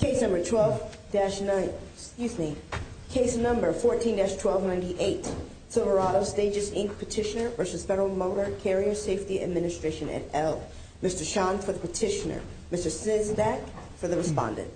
Case number 12-9, excuse me. Case number 14-1298. Silverado Stages, Inc. Petitioner v. Federal Motor Carrier Safety Administration at Elk. Mr. Sean for the petitioner. Mr. Sizdak for the respondent. Petitioner v. Federal Motor Carrier Safety Administration at Elk. Thank you. We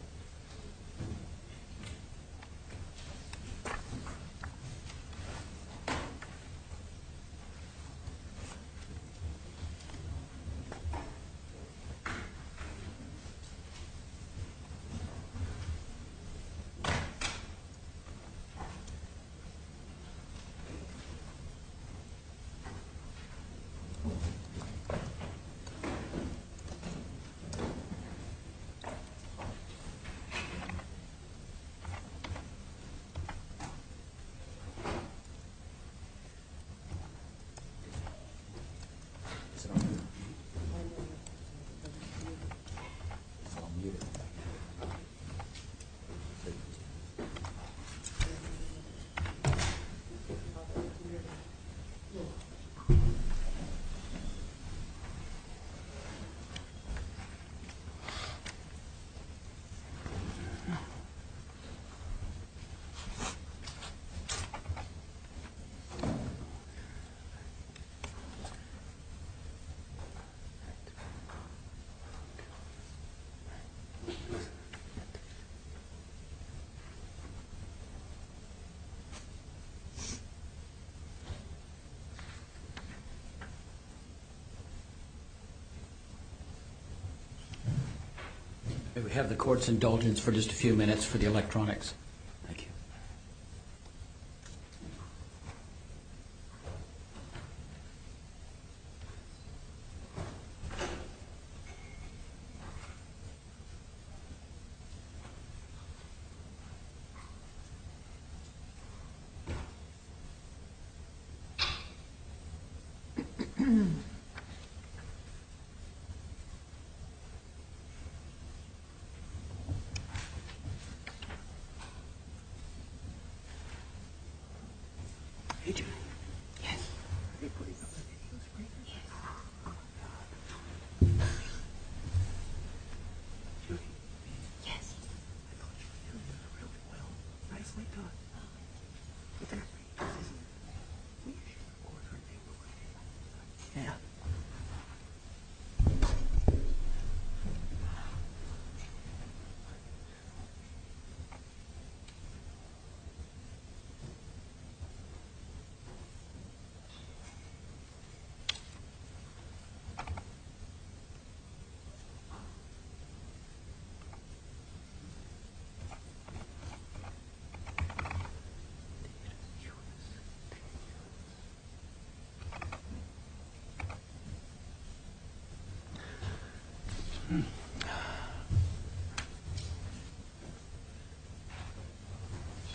have the court's indulgence for just a few minutes for the electronics. Thank you. Are you Judy? Yes. Do you believe I'm going to get you this right? Yes. Oh, my God. Judy. Yes. I thought you were doing really well. Nicely done. Oh, thank you. You've got pretty good vision. You should report everything we're doing. Yeah. Okay. Okay.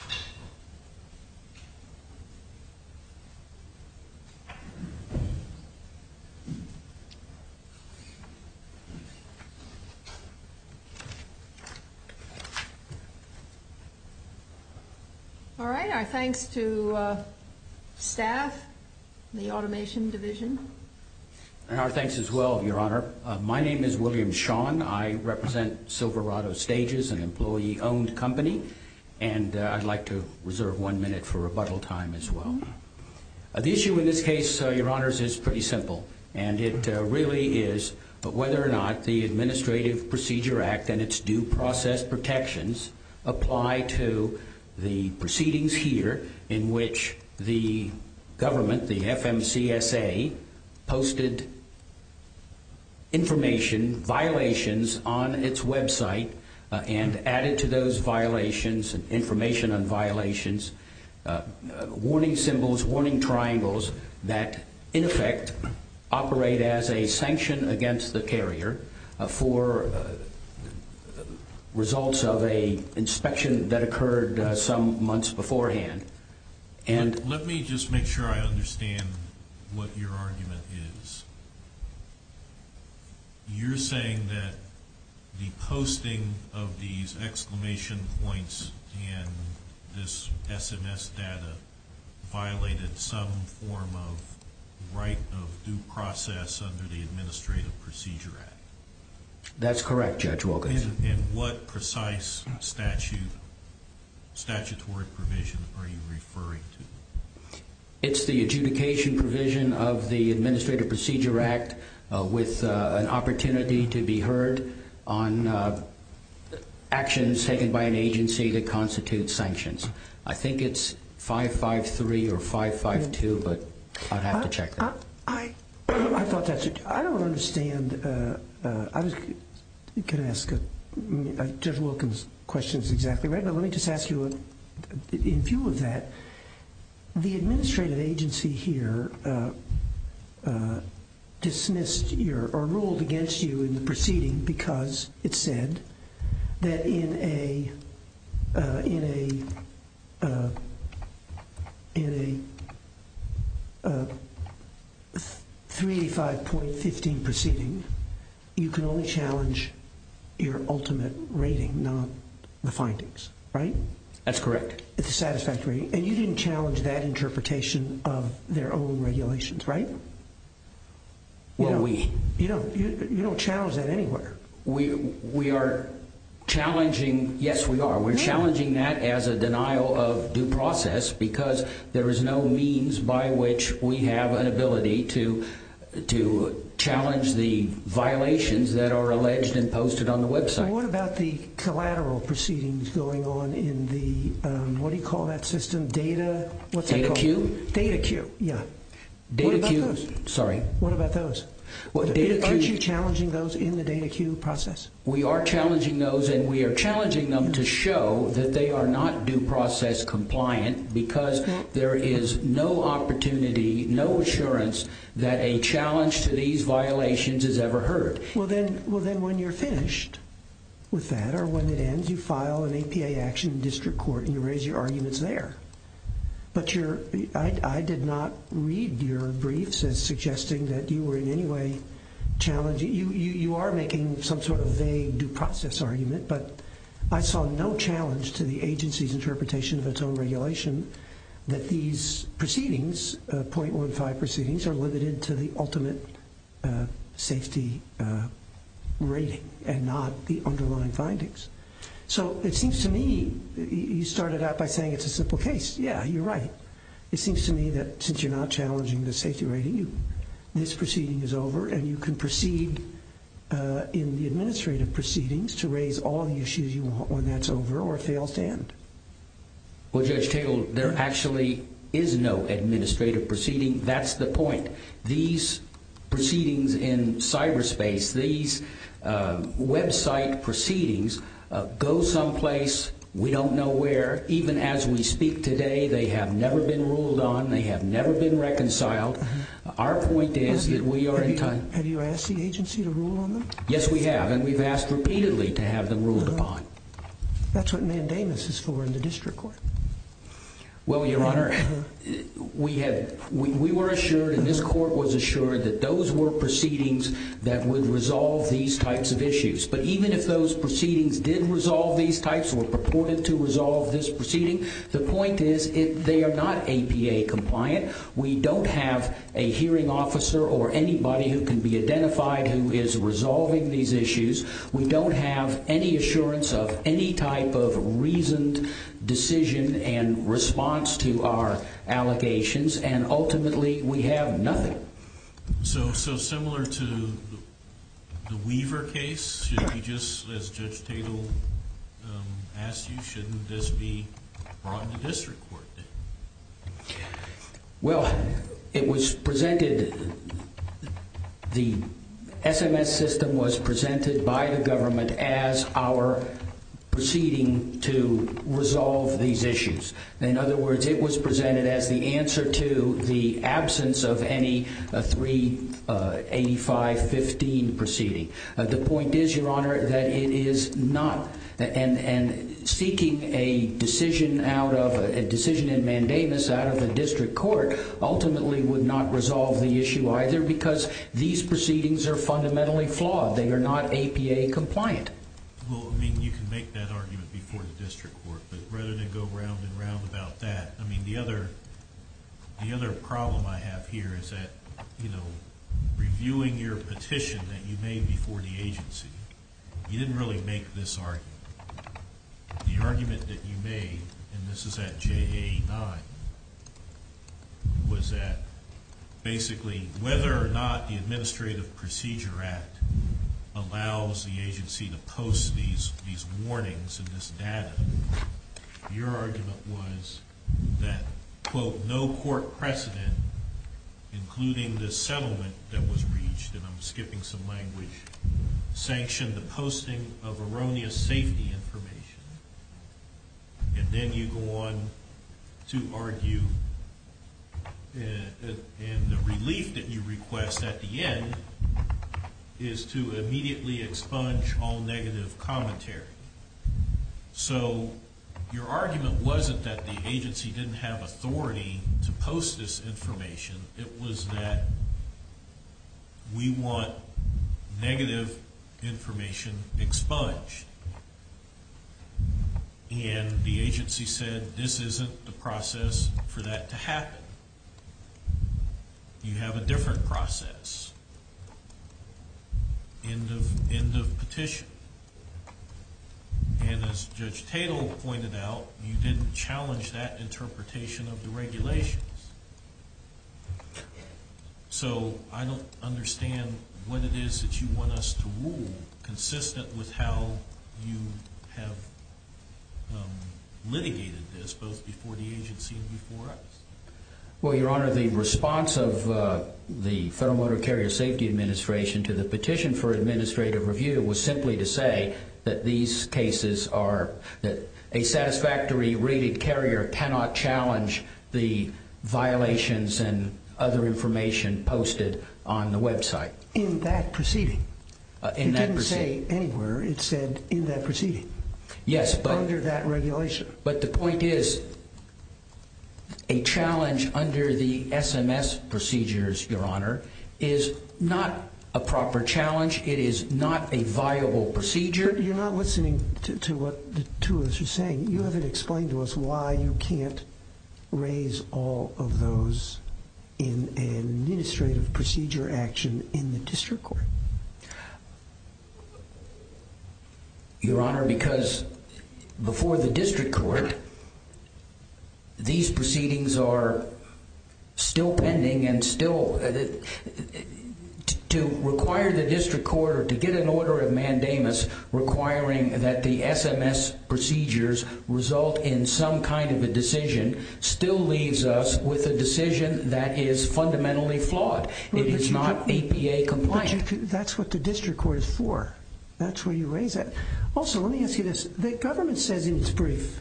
Okay. Okay. All right. Our thanks to staff, the automation division. And our thanks as well, Your Honor. My name is William Shawn. I represent Silverado Stages, an employee-owned company, and I'd like to reserve one minute for rebuttal time as well. The issue in this case, Your Honors, is pretty simple, and it really is whether or not the Administrative Procedure Act and its due process protections apply to the proceedings here in which the government, the FMCSA, posted information, violations on its website and added to those violations, information on violations, warning symbols, warning triangles, that, in effect, operate as a sanction against the carrier for results of an inspection that occurred some months beforehand. Let me just make sure I understand what your argument is. You're saying that the posting of these exclamation points and this SMS data violated some form of right of due process under the Administrative Procedure Act? That's correct, Judge Wilkinson. And what precise statutory provision are you referring to? It's the adjudication provision of the Administrative Procedure Act with an opportunity to be heard on actions taken by an agency that constitute sanctions. I think it's 553 or 552, but I'd have to check that. I don't understand. Can I ask Judge Wilkinson's question is exactly right, but let me just ask you, in view of that, the administrative agency here ruled against you in the proceeding because it said that in a 385.15 proceeding, you can only challenge your ultimate rating, not the findings, right? That's correct. It's a satisfactory rating. And you didn't challenge that interpretation of their own regulations, right? Well, we. You don't challenge that anywhere. We are challenging. Yes, we are. We're challenging that as a denial of due process because there is no means by which we have an ability to challenge the violations that are alleged and posted on the website. And what about the collateral proceedings going on in the, what do you call that system, data? What's that called? Data queue? Data queue, yeah. What about those? Sorry. What about those? Aren't you challenging those in the data queue process? We are challenging those, and we are challenging them to show that they are not due process compliant because there is no opportunity, no assurance that a challenge to these violations is ever heard. Well, then when you're finished with that or when it ends, you file an APA action in district court and you raise your arguments there. But I did not read your briefs as suggesting that you were in any way challenging. You are making some sort of vague due process argument, but I saw no challenge to the agency's interpretation of its own regulation that these proceedings, .15 proceedings, are limited to the ultimate safety rating and not the underlying findings. So it seems to me you started out by saying it's a simple case. Yeah, you're right. It seems to me that since you're not challenging the safety rating, this proceeding is over and you can proceed in the administrative proceedings to raise all the issues you want when that's over or if they all stand. Well, Judge Tingle, there actually is no administrative proceeding. That's the point. These proceedings in cyberspace, these website proceedings, go someplace we don't know where. Even as we speak today, they have never been ruled on. They have never been reconciled. Our point is that we are in time. Have you asked the agency to rule on them? Yes, we have, and we've asked repeatedly to have them ruled upon. That's what mandamus is for in the district court. Well, Your Honor, we were assured and this court was assured that those were proceedings that would resolve these types of issues. But even if those proceedings did resolve these types or were purported to resolve this proceeding, the point is they are not APA compliant. We don't have a hearing officer or anybody who can be identified who is resolving these issues. We don't have any assurance of any type of reasoned decision and response to our allegations, and ultimately we have nothing. So similar to the Weaver case, should we just, as Judge Tingle asked you, shouldn't this be brought to district court? Well, it was presented, the SMS system was presented by the government as our proceeding to resolve these issues. In other words, it was presented as the answer to the absence of any 38515 proceeding. The point is, Your Honor, that it is not, and seeking a decision in mandamus out of the district court ultimately would not resolve the issue either because these proceedings are fundamentally flawed. They are not APA compliant. Well, I mean, you can make that argument before the district court, but rather than go round and round about that, I mean, the other problem I have here is that, you know, when you were reviewing your petition that you made before the agency, you didn't really make this argument. The argument that you made, and this is at JA-9, was that basically whether or not the Administrative Procedure Act allows the agency to post these warnings and this data, your argument was that, quote, no court precedent, including the settlement that was reached, and I'm skipping some language, sanctioned the posting of erroneous safety information. And then you go on to argue, and the relief that you request at the end is to immediately expunge all negative commentary. So your argument wasn't that the agency didn't have authority to post this information. It was that we want negative information expunged. And the agency said this isn't the process for that to happen. You have a different process. End of petition. And as Judge Tatel pointed out, you didn't challenge that interpretation of the regulations. So I don't understand what it is that you want us to rule consistent with how you have litigated this, both before the agency and before us. Well, Your Honor, the response of the Federal Motor Carrier Safety Administration to the petition for administrative review was simply to say that these cases are, that a satisfactory rated carrier cannot challenge the violations and other information posted on the website. In that proceeding? In that proceeding. It didn't say anywhere. It said in that proceeding. Yes, but... Under that regulation. But the point is, a challenge under the SMS procedures, Your Honor, is not a proper challenge. It is not a viable procedure. You're not listening to what the two of us are saying. You haven't explained to us why you can't raise all of those in an administrative procedure action in the district court. Your Honor, because before the district court, these proceedings are still pending and still... To require the district court or to get an order of mandamus requiring that the SMS procedures result in some kind of a decision still leaves us with a decision that is fundamentally flawed. It is not EPA compliant. That's what the district court is for. That's where you raise it. Also, let me ask you this. The government says in its brief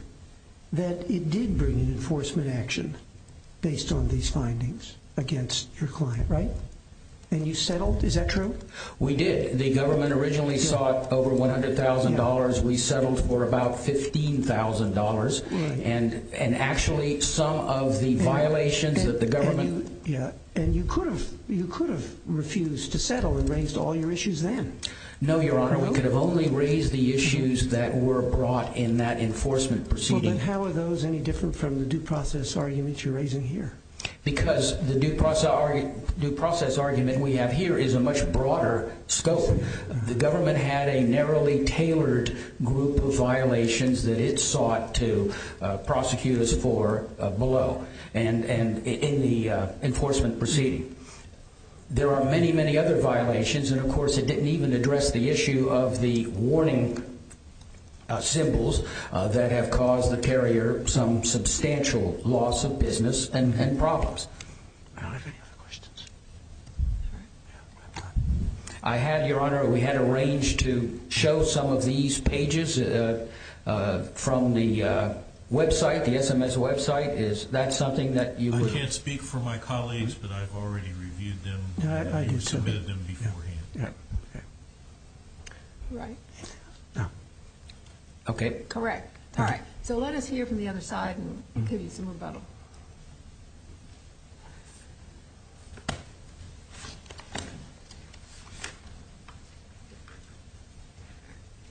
that it did bring an enforcement action based on these findings against your client, right? And you settled? Is that true? We did. The government originally sought over $100,000. We settled for about $15,000. And actually, some of the violations that the government... Yeah, and you could have refused to settle and raised all your issues then. No, Your Honor. We could have only raised the issues that were brought in that enforcement proceeding. Well, then how are those any different from the due process arguments you're raising here? Because the due process argument we have here is a much broader scope. The government had a narrowly tailored group of violations that it sought to prosecute us for below and in the enforcement proceeding. There are many, many other violations, and of course it didn't even address the issue of the warning symbols that have caused the carrier some substantial loss of business and problems. I don't have any other questions. I have, Your Honor. We had arranged to show some of these pages from the website, the SMS website. Is that something that you... I can't speak for my colleagues, but I've already reviewed them. You submitted them beforehand. Right. Okay. Correct. All right, so let us hear from the other side and give you some rebuttal.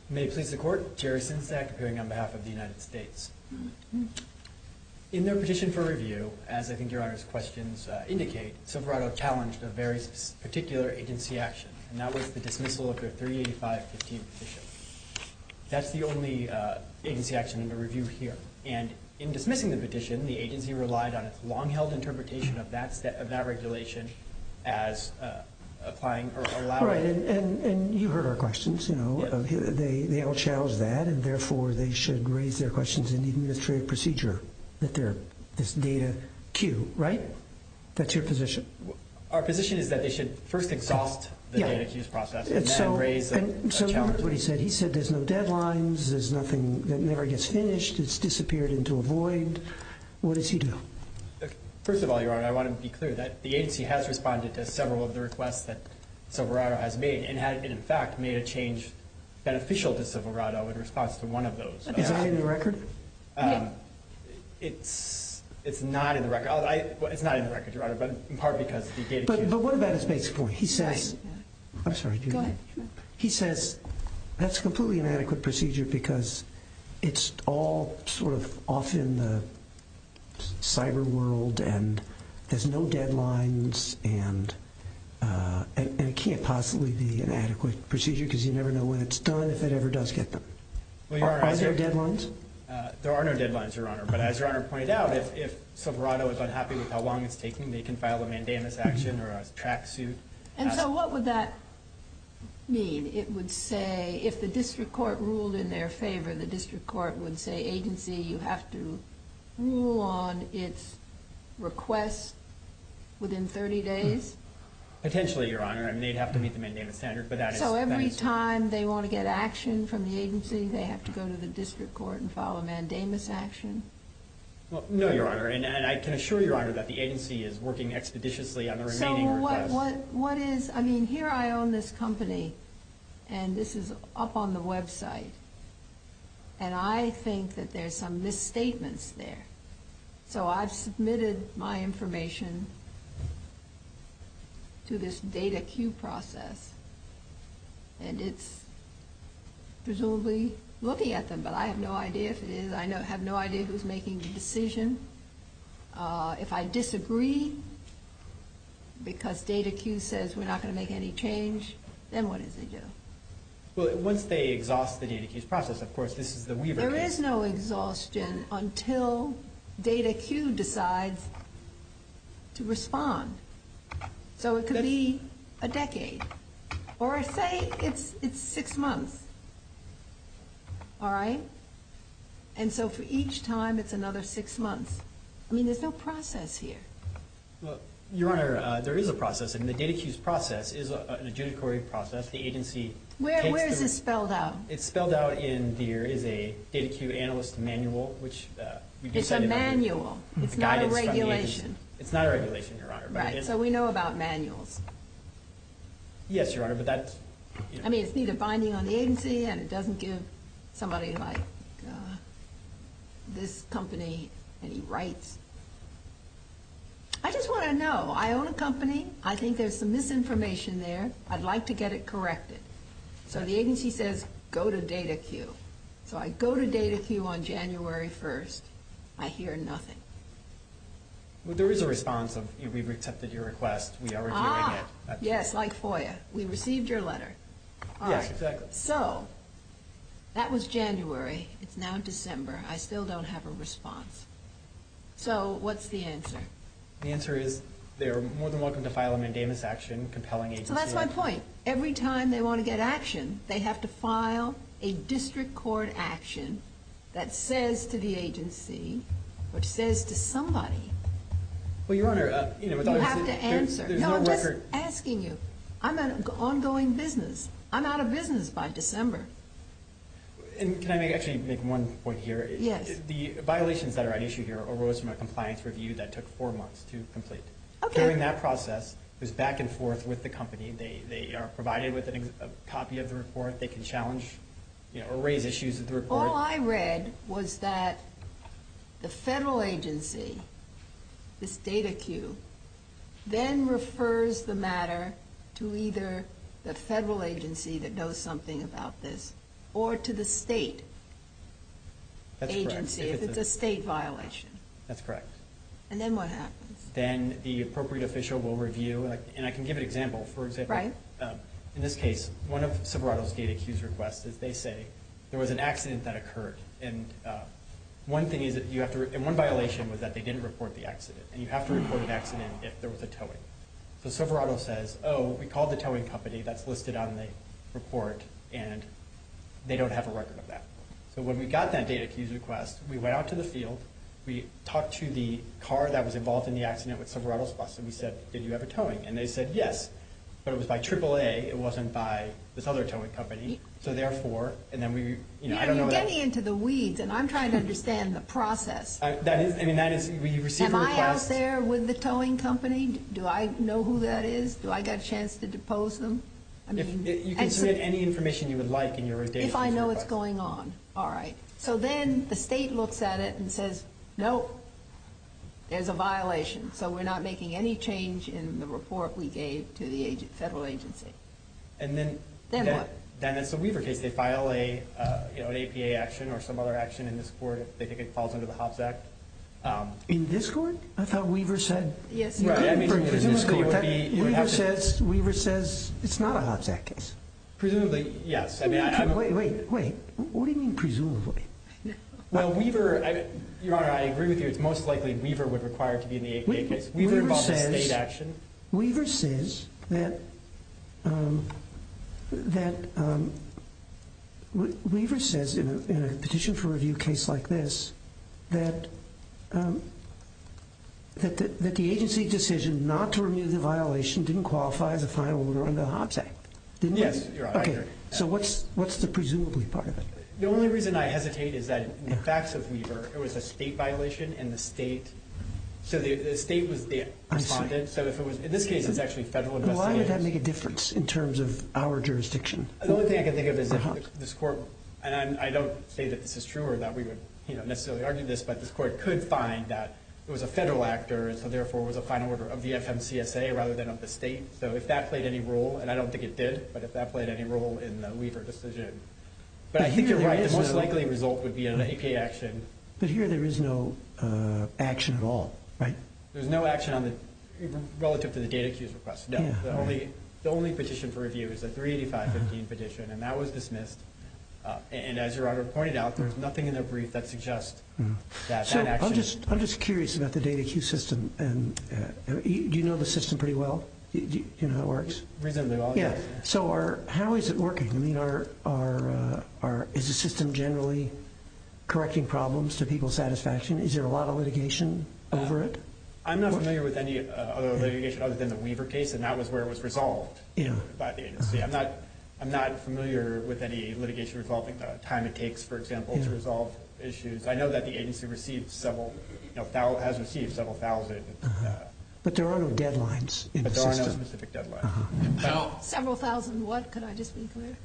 May it please the Court. Jerry Sinsnack, appearing on behalf of the United States. In their petition for review, as I think Your Honor's questions indicate, Silverado challenged a very particular agency action, and that was the dismissal of their 38515 petition. That's the only agency action under review here, and in dismissing the petition, the agency relied on its long-held interpretation of that regulation as allowing... Right, and you heard our questions. They all challenged that, and therefore they should raise their questions in the administrative procedure, this data cue, right? That's your position. Our position is that they should first exhaust the data cue process and then raise a challenge. And so what he said, he said there's no deadlines, there's nothing that never gets finished, it's disappeared into a void. What does he do? First of all, Your Honor, I want to be clear that the agency has responded to several of the requests that Silverado has made and had, in fact, made a change beneficial to Silverado in response to one of those. Is that in the record? It's not in the record, Your Honor, but in part because the data cue... But what about his basic point? He says... I'm sorry, do you mind? Go ahead. He says that's a completely inadequate procedure because it's all sort of off in the cyber world and there's no deadlines and it can't possibly be an adequate procedure because you never know when it's done, if it ever does get done. Are there deadlines? There are no deadlines, Your Honor, but as Your Honor pointed out, if Silverado is unhappy with how long it's taking, they can file a mandamus action or a track suit. And so what would that mean? It would say, if the district court ruled in their favor, the district court would say, agency, you have to rule on its request within 30 days? Potentially, Your Honor. They'd have to meet the mandamus standard, but that is... So every time they want to get action from the agency, they have to go to the district court and file a mandamus action? No, Your Honor, and I can assure Your Honor that the agency is working expeditiously on the remaining requests. So what is... I mean, here I own this company and this is up on the website and I think that there's some misstatements there. So I've submitted my information to this data queue process and it's presumably looking at them, but I have no idea if it is. I have no idea who's making the decision. If I disagree because data queue says we're not going to make any change, then what does it do? Well, once they exhaust the data queue process, of course, this is the Weaver case. There is no exhaustion until data queue decides to respond. So it could be a decade. Or say it's six months, all right? And so for each time, it's another six months. I mean, there's no process here. Well, Your Honor, there is a process, and the data queue's process is an adjudicatory process. The agency takes the... Where is this spelled out? It's spelled out in... There is a data queue analyst manual, which we do send... It's a manual. It's not a regulation. It's not a regulation, Your Honor. Right, so we know about manuals. Yes, Your Honor, but that's... I mean, it's neither binding on the agency and it doesn't give somebody like this company any rights. I just want to know. I own a company. I think there's some misinformation there. I'd like to get it corrected. So the agency says, go to data queue. So I go to data queue on January 1st. I hear nothing. Well, there is a response of, we've accepted your request. We are reviewing it. Ah, yes, like FOIA. We received your letter. Yes, exactly. So that was January. It's now December. I still don't have a response. So what's the answer? The answer is they are more than welcome to file a mandamus action, compelling agency... So that's my point. Every time they want to get action, they have to file a district court action that says to the agency or says to somebody... Well, Your Honor... You have to answer. There's no record... No, I'm just asking you. I'm an ongoing business. I'm out of business by December. And can I actually make one point here? Yes. The violations that are at issue here arose from a compliance review that took 4 months to complete. Okay. During that process, it was back and forth with the company. They are provided with a copy of the report. They can challenge or raise issues with the report. All I read was that the federal agency, this DataQ, then refers the matter to either the federal agency that knows something about this or to the state agency if it's a state violation. That's correct. And then what happens? Then the appropriate official will review. And I can give an example. For example, in this case, one of Sberato's DataQ's requests is they say there was an accident that occurred. And one thing is that you have to... And one violation was that they didn't report the accident. And you have to report an accident if there was a towing. So Sberato says, oh, we called the towing company that's listed on the report, and they don't have a record of that. So when we got that DataQ's request, we went out to the field, we talked to the car that was involved in the accident with Sberato's bus, and we said, did you have a towing? And they said yes. But it was by AAA. It wasn't by this other towing company. So therefore, and then we... You're getting into the weeds, and I'm trying to understand the process. I mean, that is... Am I out there with the towing company? Do I know who that is? Do I get a chance to depose them? You can submit any information you would like in your data. If I know what's going on. All right. So then the state looks at it and says, nope, there's a violation. So we're not making any change in the report we gave to the federal agency. And then... Then what? Then it's a Weaver case. They file an APA action or some other action in this court if they think it falls under the Hobbs Act. In this court? I thought Weaver said... Yes. Weaver says it's not a Hobbs Act case. Presumably, yes. Wait, wait, wait. What do you mean presumably? Well, Weaver... Your Honor, I agree with you. It's most likely Weaver would require it to be in the APA case. Weaver says... Weaver says that... That... Weaver says in a petition for review case like this that the agency's decision not to review the violation didn't qualify as a final order under the Hobbs Act. Didn't it? Yes, Your Honor. Okay. So what's the presumably part of it? The only reason I hesitate is that in the facts of Weaver, it was a state violation and the state... So the state was the respondent. I'm sorry. So if it was... In this case, it's actually federal investigators. But why would that make a difference in terms of our jurisdiction? The only thing I can think of is if this court, and I don't say that this is true or that we would necessarily argue this, but this court could find that it was a federal actor and so therefore it was a final order of the FMCSA rather than of the state. So if that played any role, and I don't think it did, but if that played any role in the Weaver decision. But I think you're right. The most likely result would be an APA action. But here there is no action at all, right? There's no action relative to the data cues request. No. The only petition for review is the 38515 petition, and that was dismissed. And as your Honor pointed out, there's nothing in the brief that suggests that that action... So I'm just curious about the data cue system. Do you know the system pretty well? Do you know how it works? Reasonably well, yes. So how is it working? I mean, is the system generally correcting problems to people's satisfaction? Is there a lot of litigation over it? I'm not familiar with any other litigation other than the Weaver case, and that was where it was resolved by the agency. I'm not familiar with any litigation involving the time it takes, for example, to resolve issues. I know that the agency has received several thousand. But there are no deadlines in the system. But there are no specific deadlines. Several thousand what? Could I just be clear?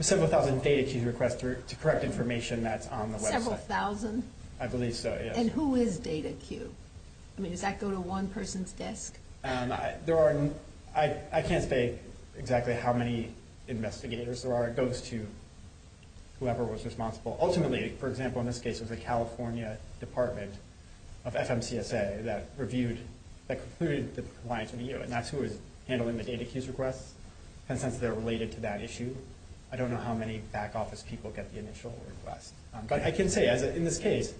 Several thousand data cue requests to correct information that's on the website. Several thousand? I believe so, yes. And who is data cue? I mean, does that go to one person's desk? I can't say exactly how many investigators there are. It goes to whoever was responsible. Ultimately, for example, in this case, it was the California Department of FMCSA that reviewed, that concluded the compliance review, and that's who was handling the data cues requests. And since they're related to that issue, I don't know how many back office people get the initial request. But I can say, in this case,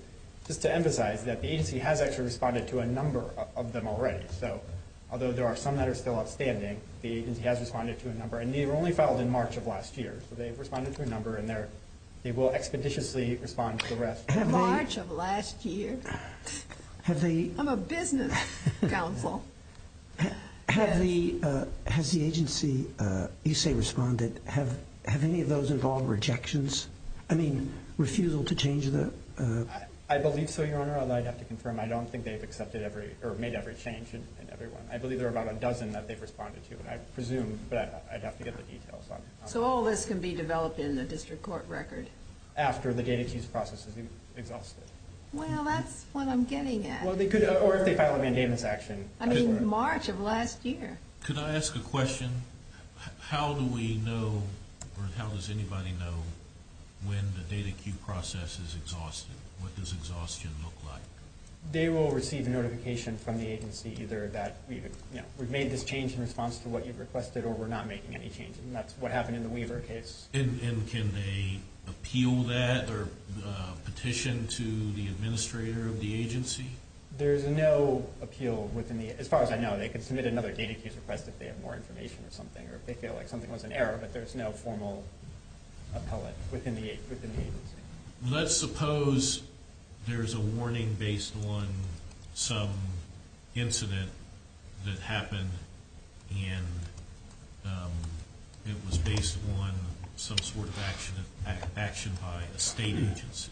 just to emphasize that the agency has actually responded to a number of them already. So although there are some that are still outstanding, the agency has responded to a number. And they were only filed in March of last year. So they've responded to a number, and they will expeditiously respond to the rest. March of last year? I'm a business counsel. Has the agency, you say responded. Have any of those involved rejections? I mean, refusal to change the... I believe so, Your Honor. Although I'd have to confirm, I don't think they've made every change in every one. I believe there are about a dozen that they've responded to. I presume, but I'd have to get the details on it. So all this can be developed in the district court record? After the data cues process has been exhausted. Well, that's what I'm getting at. Or if they file a mandamus action. I mean, March of last year. Could I ask a question? How do we know, or how does anybody know, when the data cue process is exhausted? What does exhaustion look like? They will receive a notification from the agency, either that we've made this change in response to what you've requested, or we're not making any changes. And that's what happened in the Weaver case. And can they appeal that, or petition to the administrator of the agency? There's no appeal within the... As far as I know, they can submit another data cues request if they have more information or something. Or if they feel like something was an error, but there's no formal appellate within the agency. Let's suppose there's a warning based on some incident that happened, and it was based on some sort of action by a state agency.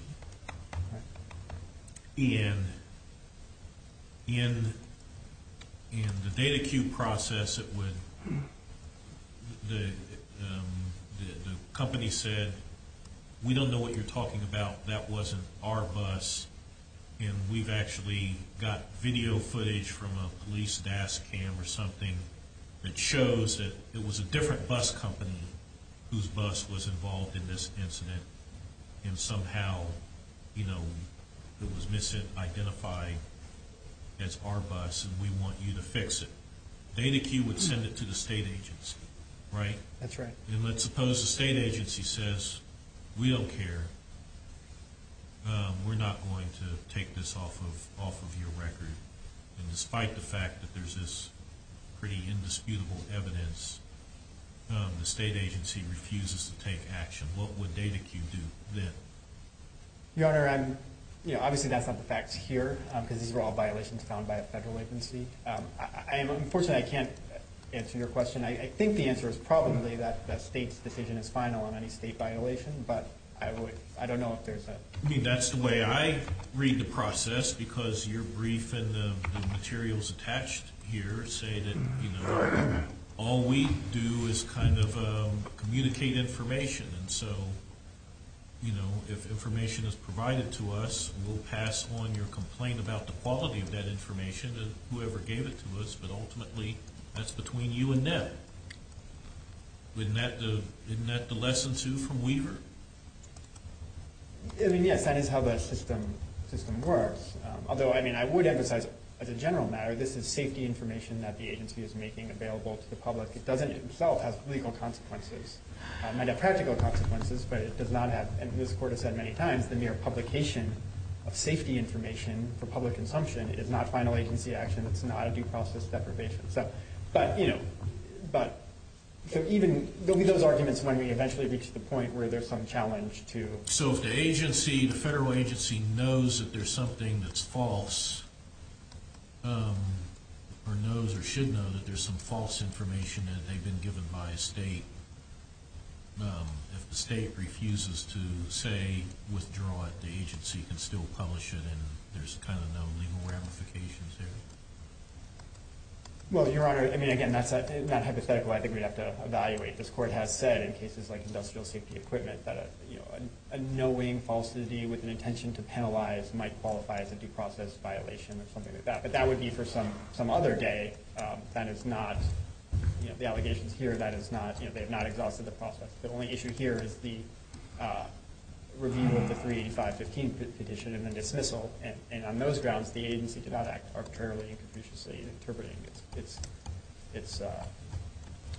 And in the data cue process, the company said, we don't know what you're talking about. That wasn't our bus. And we've actually got video footage from a police DASCAM or something that shows that it was a different bus company whose bus was involved in this incident, and somehow it was identified as our bus, and we want you to fix it. Data cue would send it to the state agency, right? That's right. And let's suppose the state agency says, we don't care. We're not going to take this off of your record. And despite the fact that there's this pretty indisputable evidence, the state agency refuses to take action. What would data cue do then? Your Honor, obviously that's not the facts here, because these are all violations found by a federal agency. Unfortunately, I can't answer your question. I think the answer is probably that the state's decision is final on any state violation, but I don't know if there's a... I mean, that's the way I read the process, because your brief and the materials attached here say that, you know, all we do is kind of communicate information, and so, you know, if information is provided to us, we'll pass on your complaint about the quality of that information to whoever gave it to us, but ultimately that's between you and them. Isn't that the lesson, too, from Weaver? I mean, yes, that is how the system works. Although, I mean, I would emphasize as a general matter this is safety information that the agency is making available to the public. It doesn't itself have legal consequences. It might have practical consequences, but it does not have, and this Court has said many times, the mere publication of safety information for public consumption is not final agency action. It's not a due process deprivation. But, you know, there'll be those arguments when we eventually reach the point where there's some challenge to... So if the agency, the federal agency, knows that there's something that's false, or knows or should know that there's some false information and they've been given by a state, if the state refuses to, say, withdraw it, the agency can still publish it and there's kind of no legal ramifications there? Well, Your Honor, I mean, again, that's not hypothetical. I think we'd have to evaluate. This Court has said in cases like industrial safety equipment that a knowing falsity with an intention to penalize might qualify as a due process violation or something like that. But that would be for some other day. That is not... You know, the allegations here, that is not... You know, they have not exhausted the process. The only issue here is the review of the 385.15 petition and the dismissal, and on those grounds, the agency did not act arbitrarily and confuciously in interpreting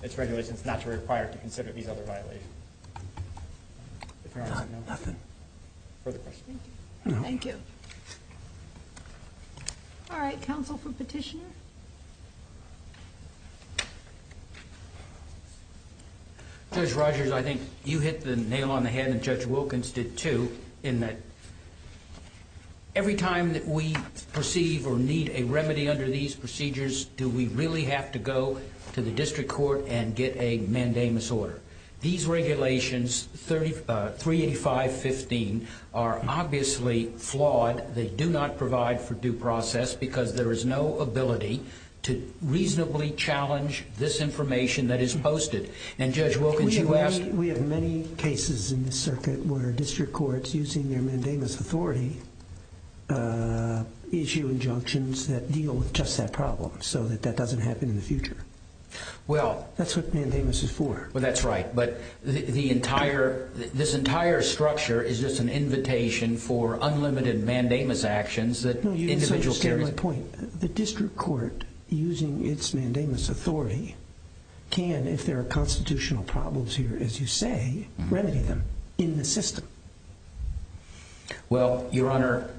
its regulations not to require it to consider these other violations. Nothing. Further questions? No. Thank you. All right. Counsel for petitioner? Judge Rogers, I think you hit the nail on the head and Judge Wilkins did, too, in that every time that we perceive or need a remedy under these procedures, do we really have to go to the district court and get a mandamus order? These regulations, 385.15, are obviously flawed. They do not provide for due process because there is no ability to reasonably challenge this information that is posted. And Judge Wilkins, you asked... We have many cases in this circuit where district courts, using their mandamus authority, issue injunctions that deal with just that problem so that that doesn't happen in the future. Well... That's what mandamus is for. Well, that's right. But the entire... This entire structure is just an invitation for unlimited mandamus actions that individual parents... No, you misunderstood my point. The district court, using its mandamus authority, can, if there are constitutional problems here, as you say, remedy them in the system. Well, Your Honor,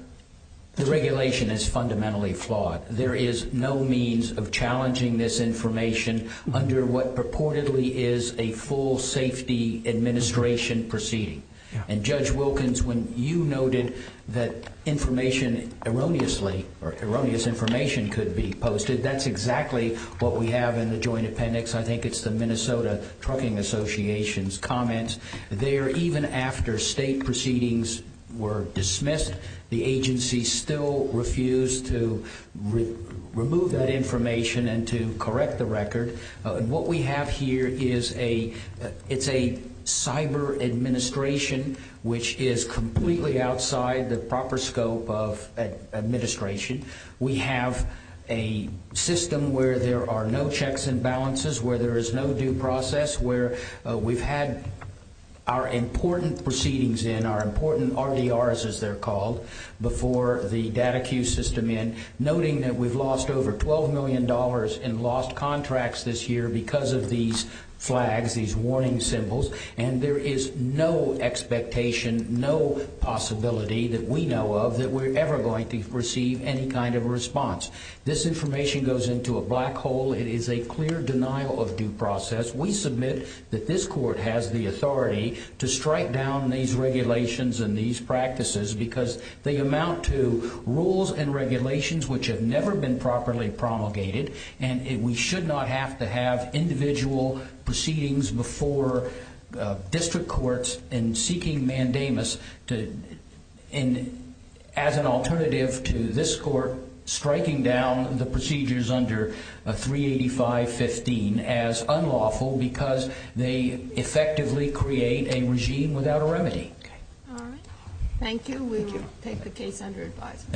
the regulation is fundamentally flawed. There is no means of challenging this information under what purportedly is a full safety administration proceeding. And Judge Wilkins, when you noted that information erroneously, or erroneous information could be posted, that's exactly what we have in the Joint Appendix. I think it's the Minnesota Trucking Association's comments. There, even after state proceedings were dismissed, the agency still refused to remove that information and to correct the record. What we have here is a cyber administration which is completely outside the proper scope of administration. We have a system where there are no checks and balances, where there is no due process, where we've had our important proceedings in, our important RDRs, as they're called, before the data queue system in, noting that we've lost over $12 million in lost contracts this year because of these flags, these warning symbols, and there is no expectation, no possibility that we know of that we're ever going to receive any kind of response. This information goes into a black hole. It is a clear denial of due process. We submit that this court has the authority to strike down these regulations and these practices because they amount to rules and regulations which have never been properly promulgated, and we should not have to have individual proceedings before district courts in seeking mandamus as an alternative to this court striking down the procedures under 385.15 as unlawful because they effectively create a regime without a remedy. All right. Thank you. We will take the case under advisement.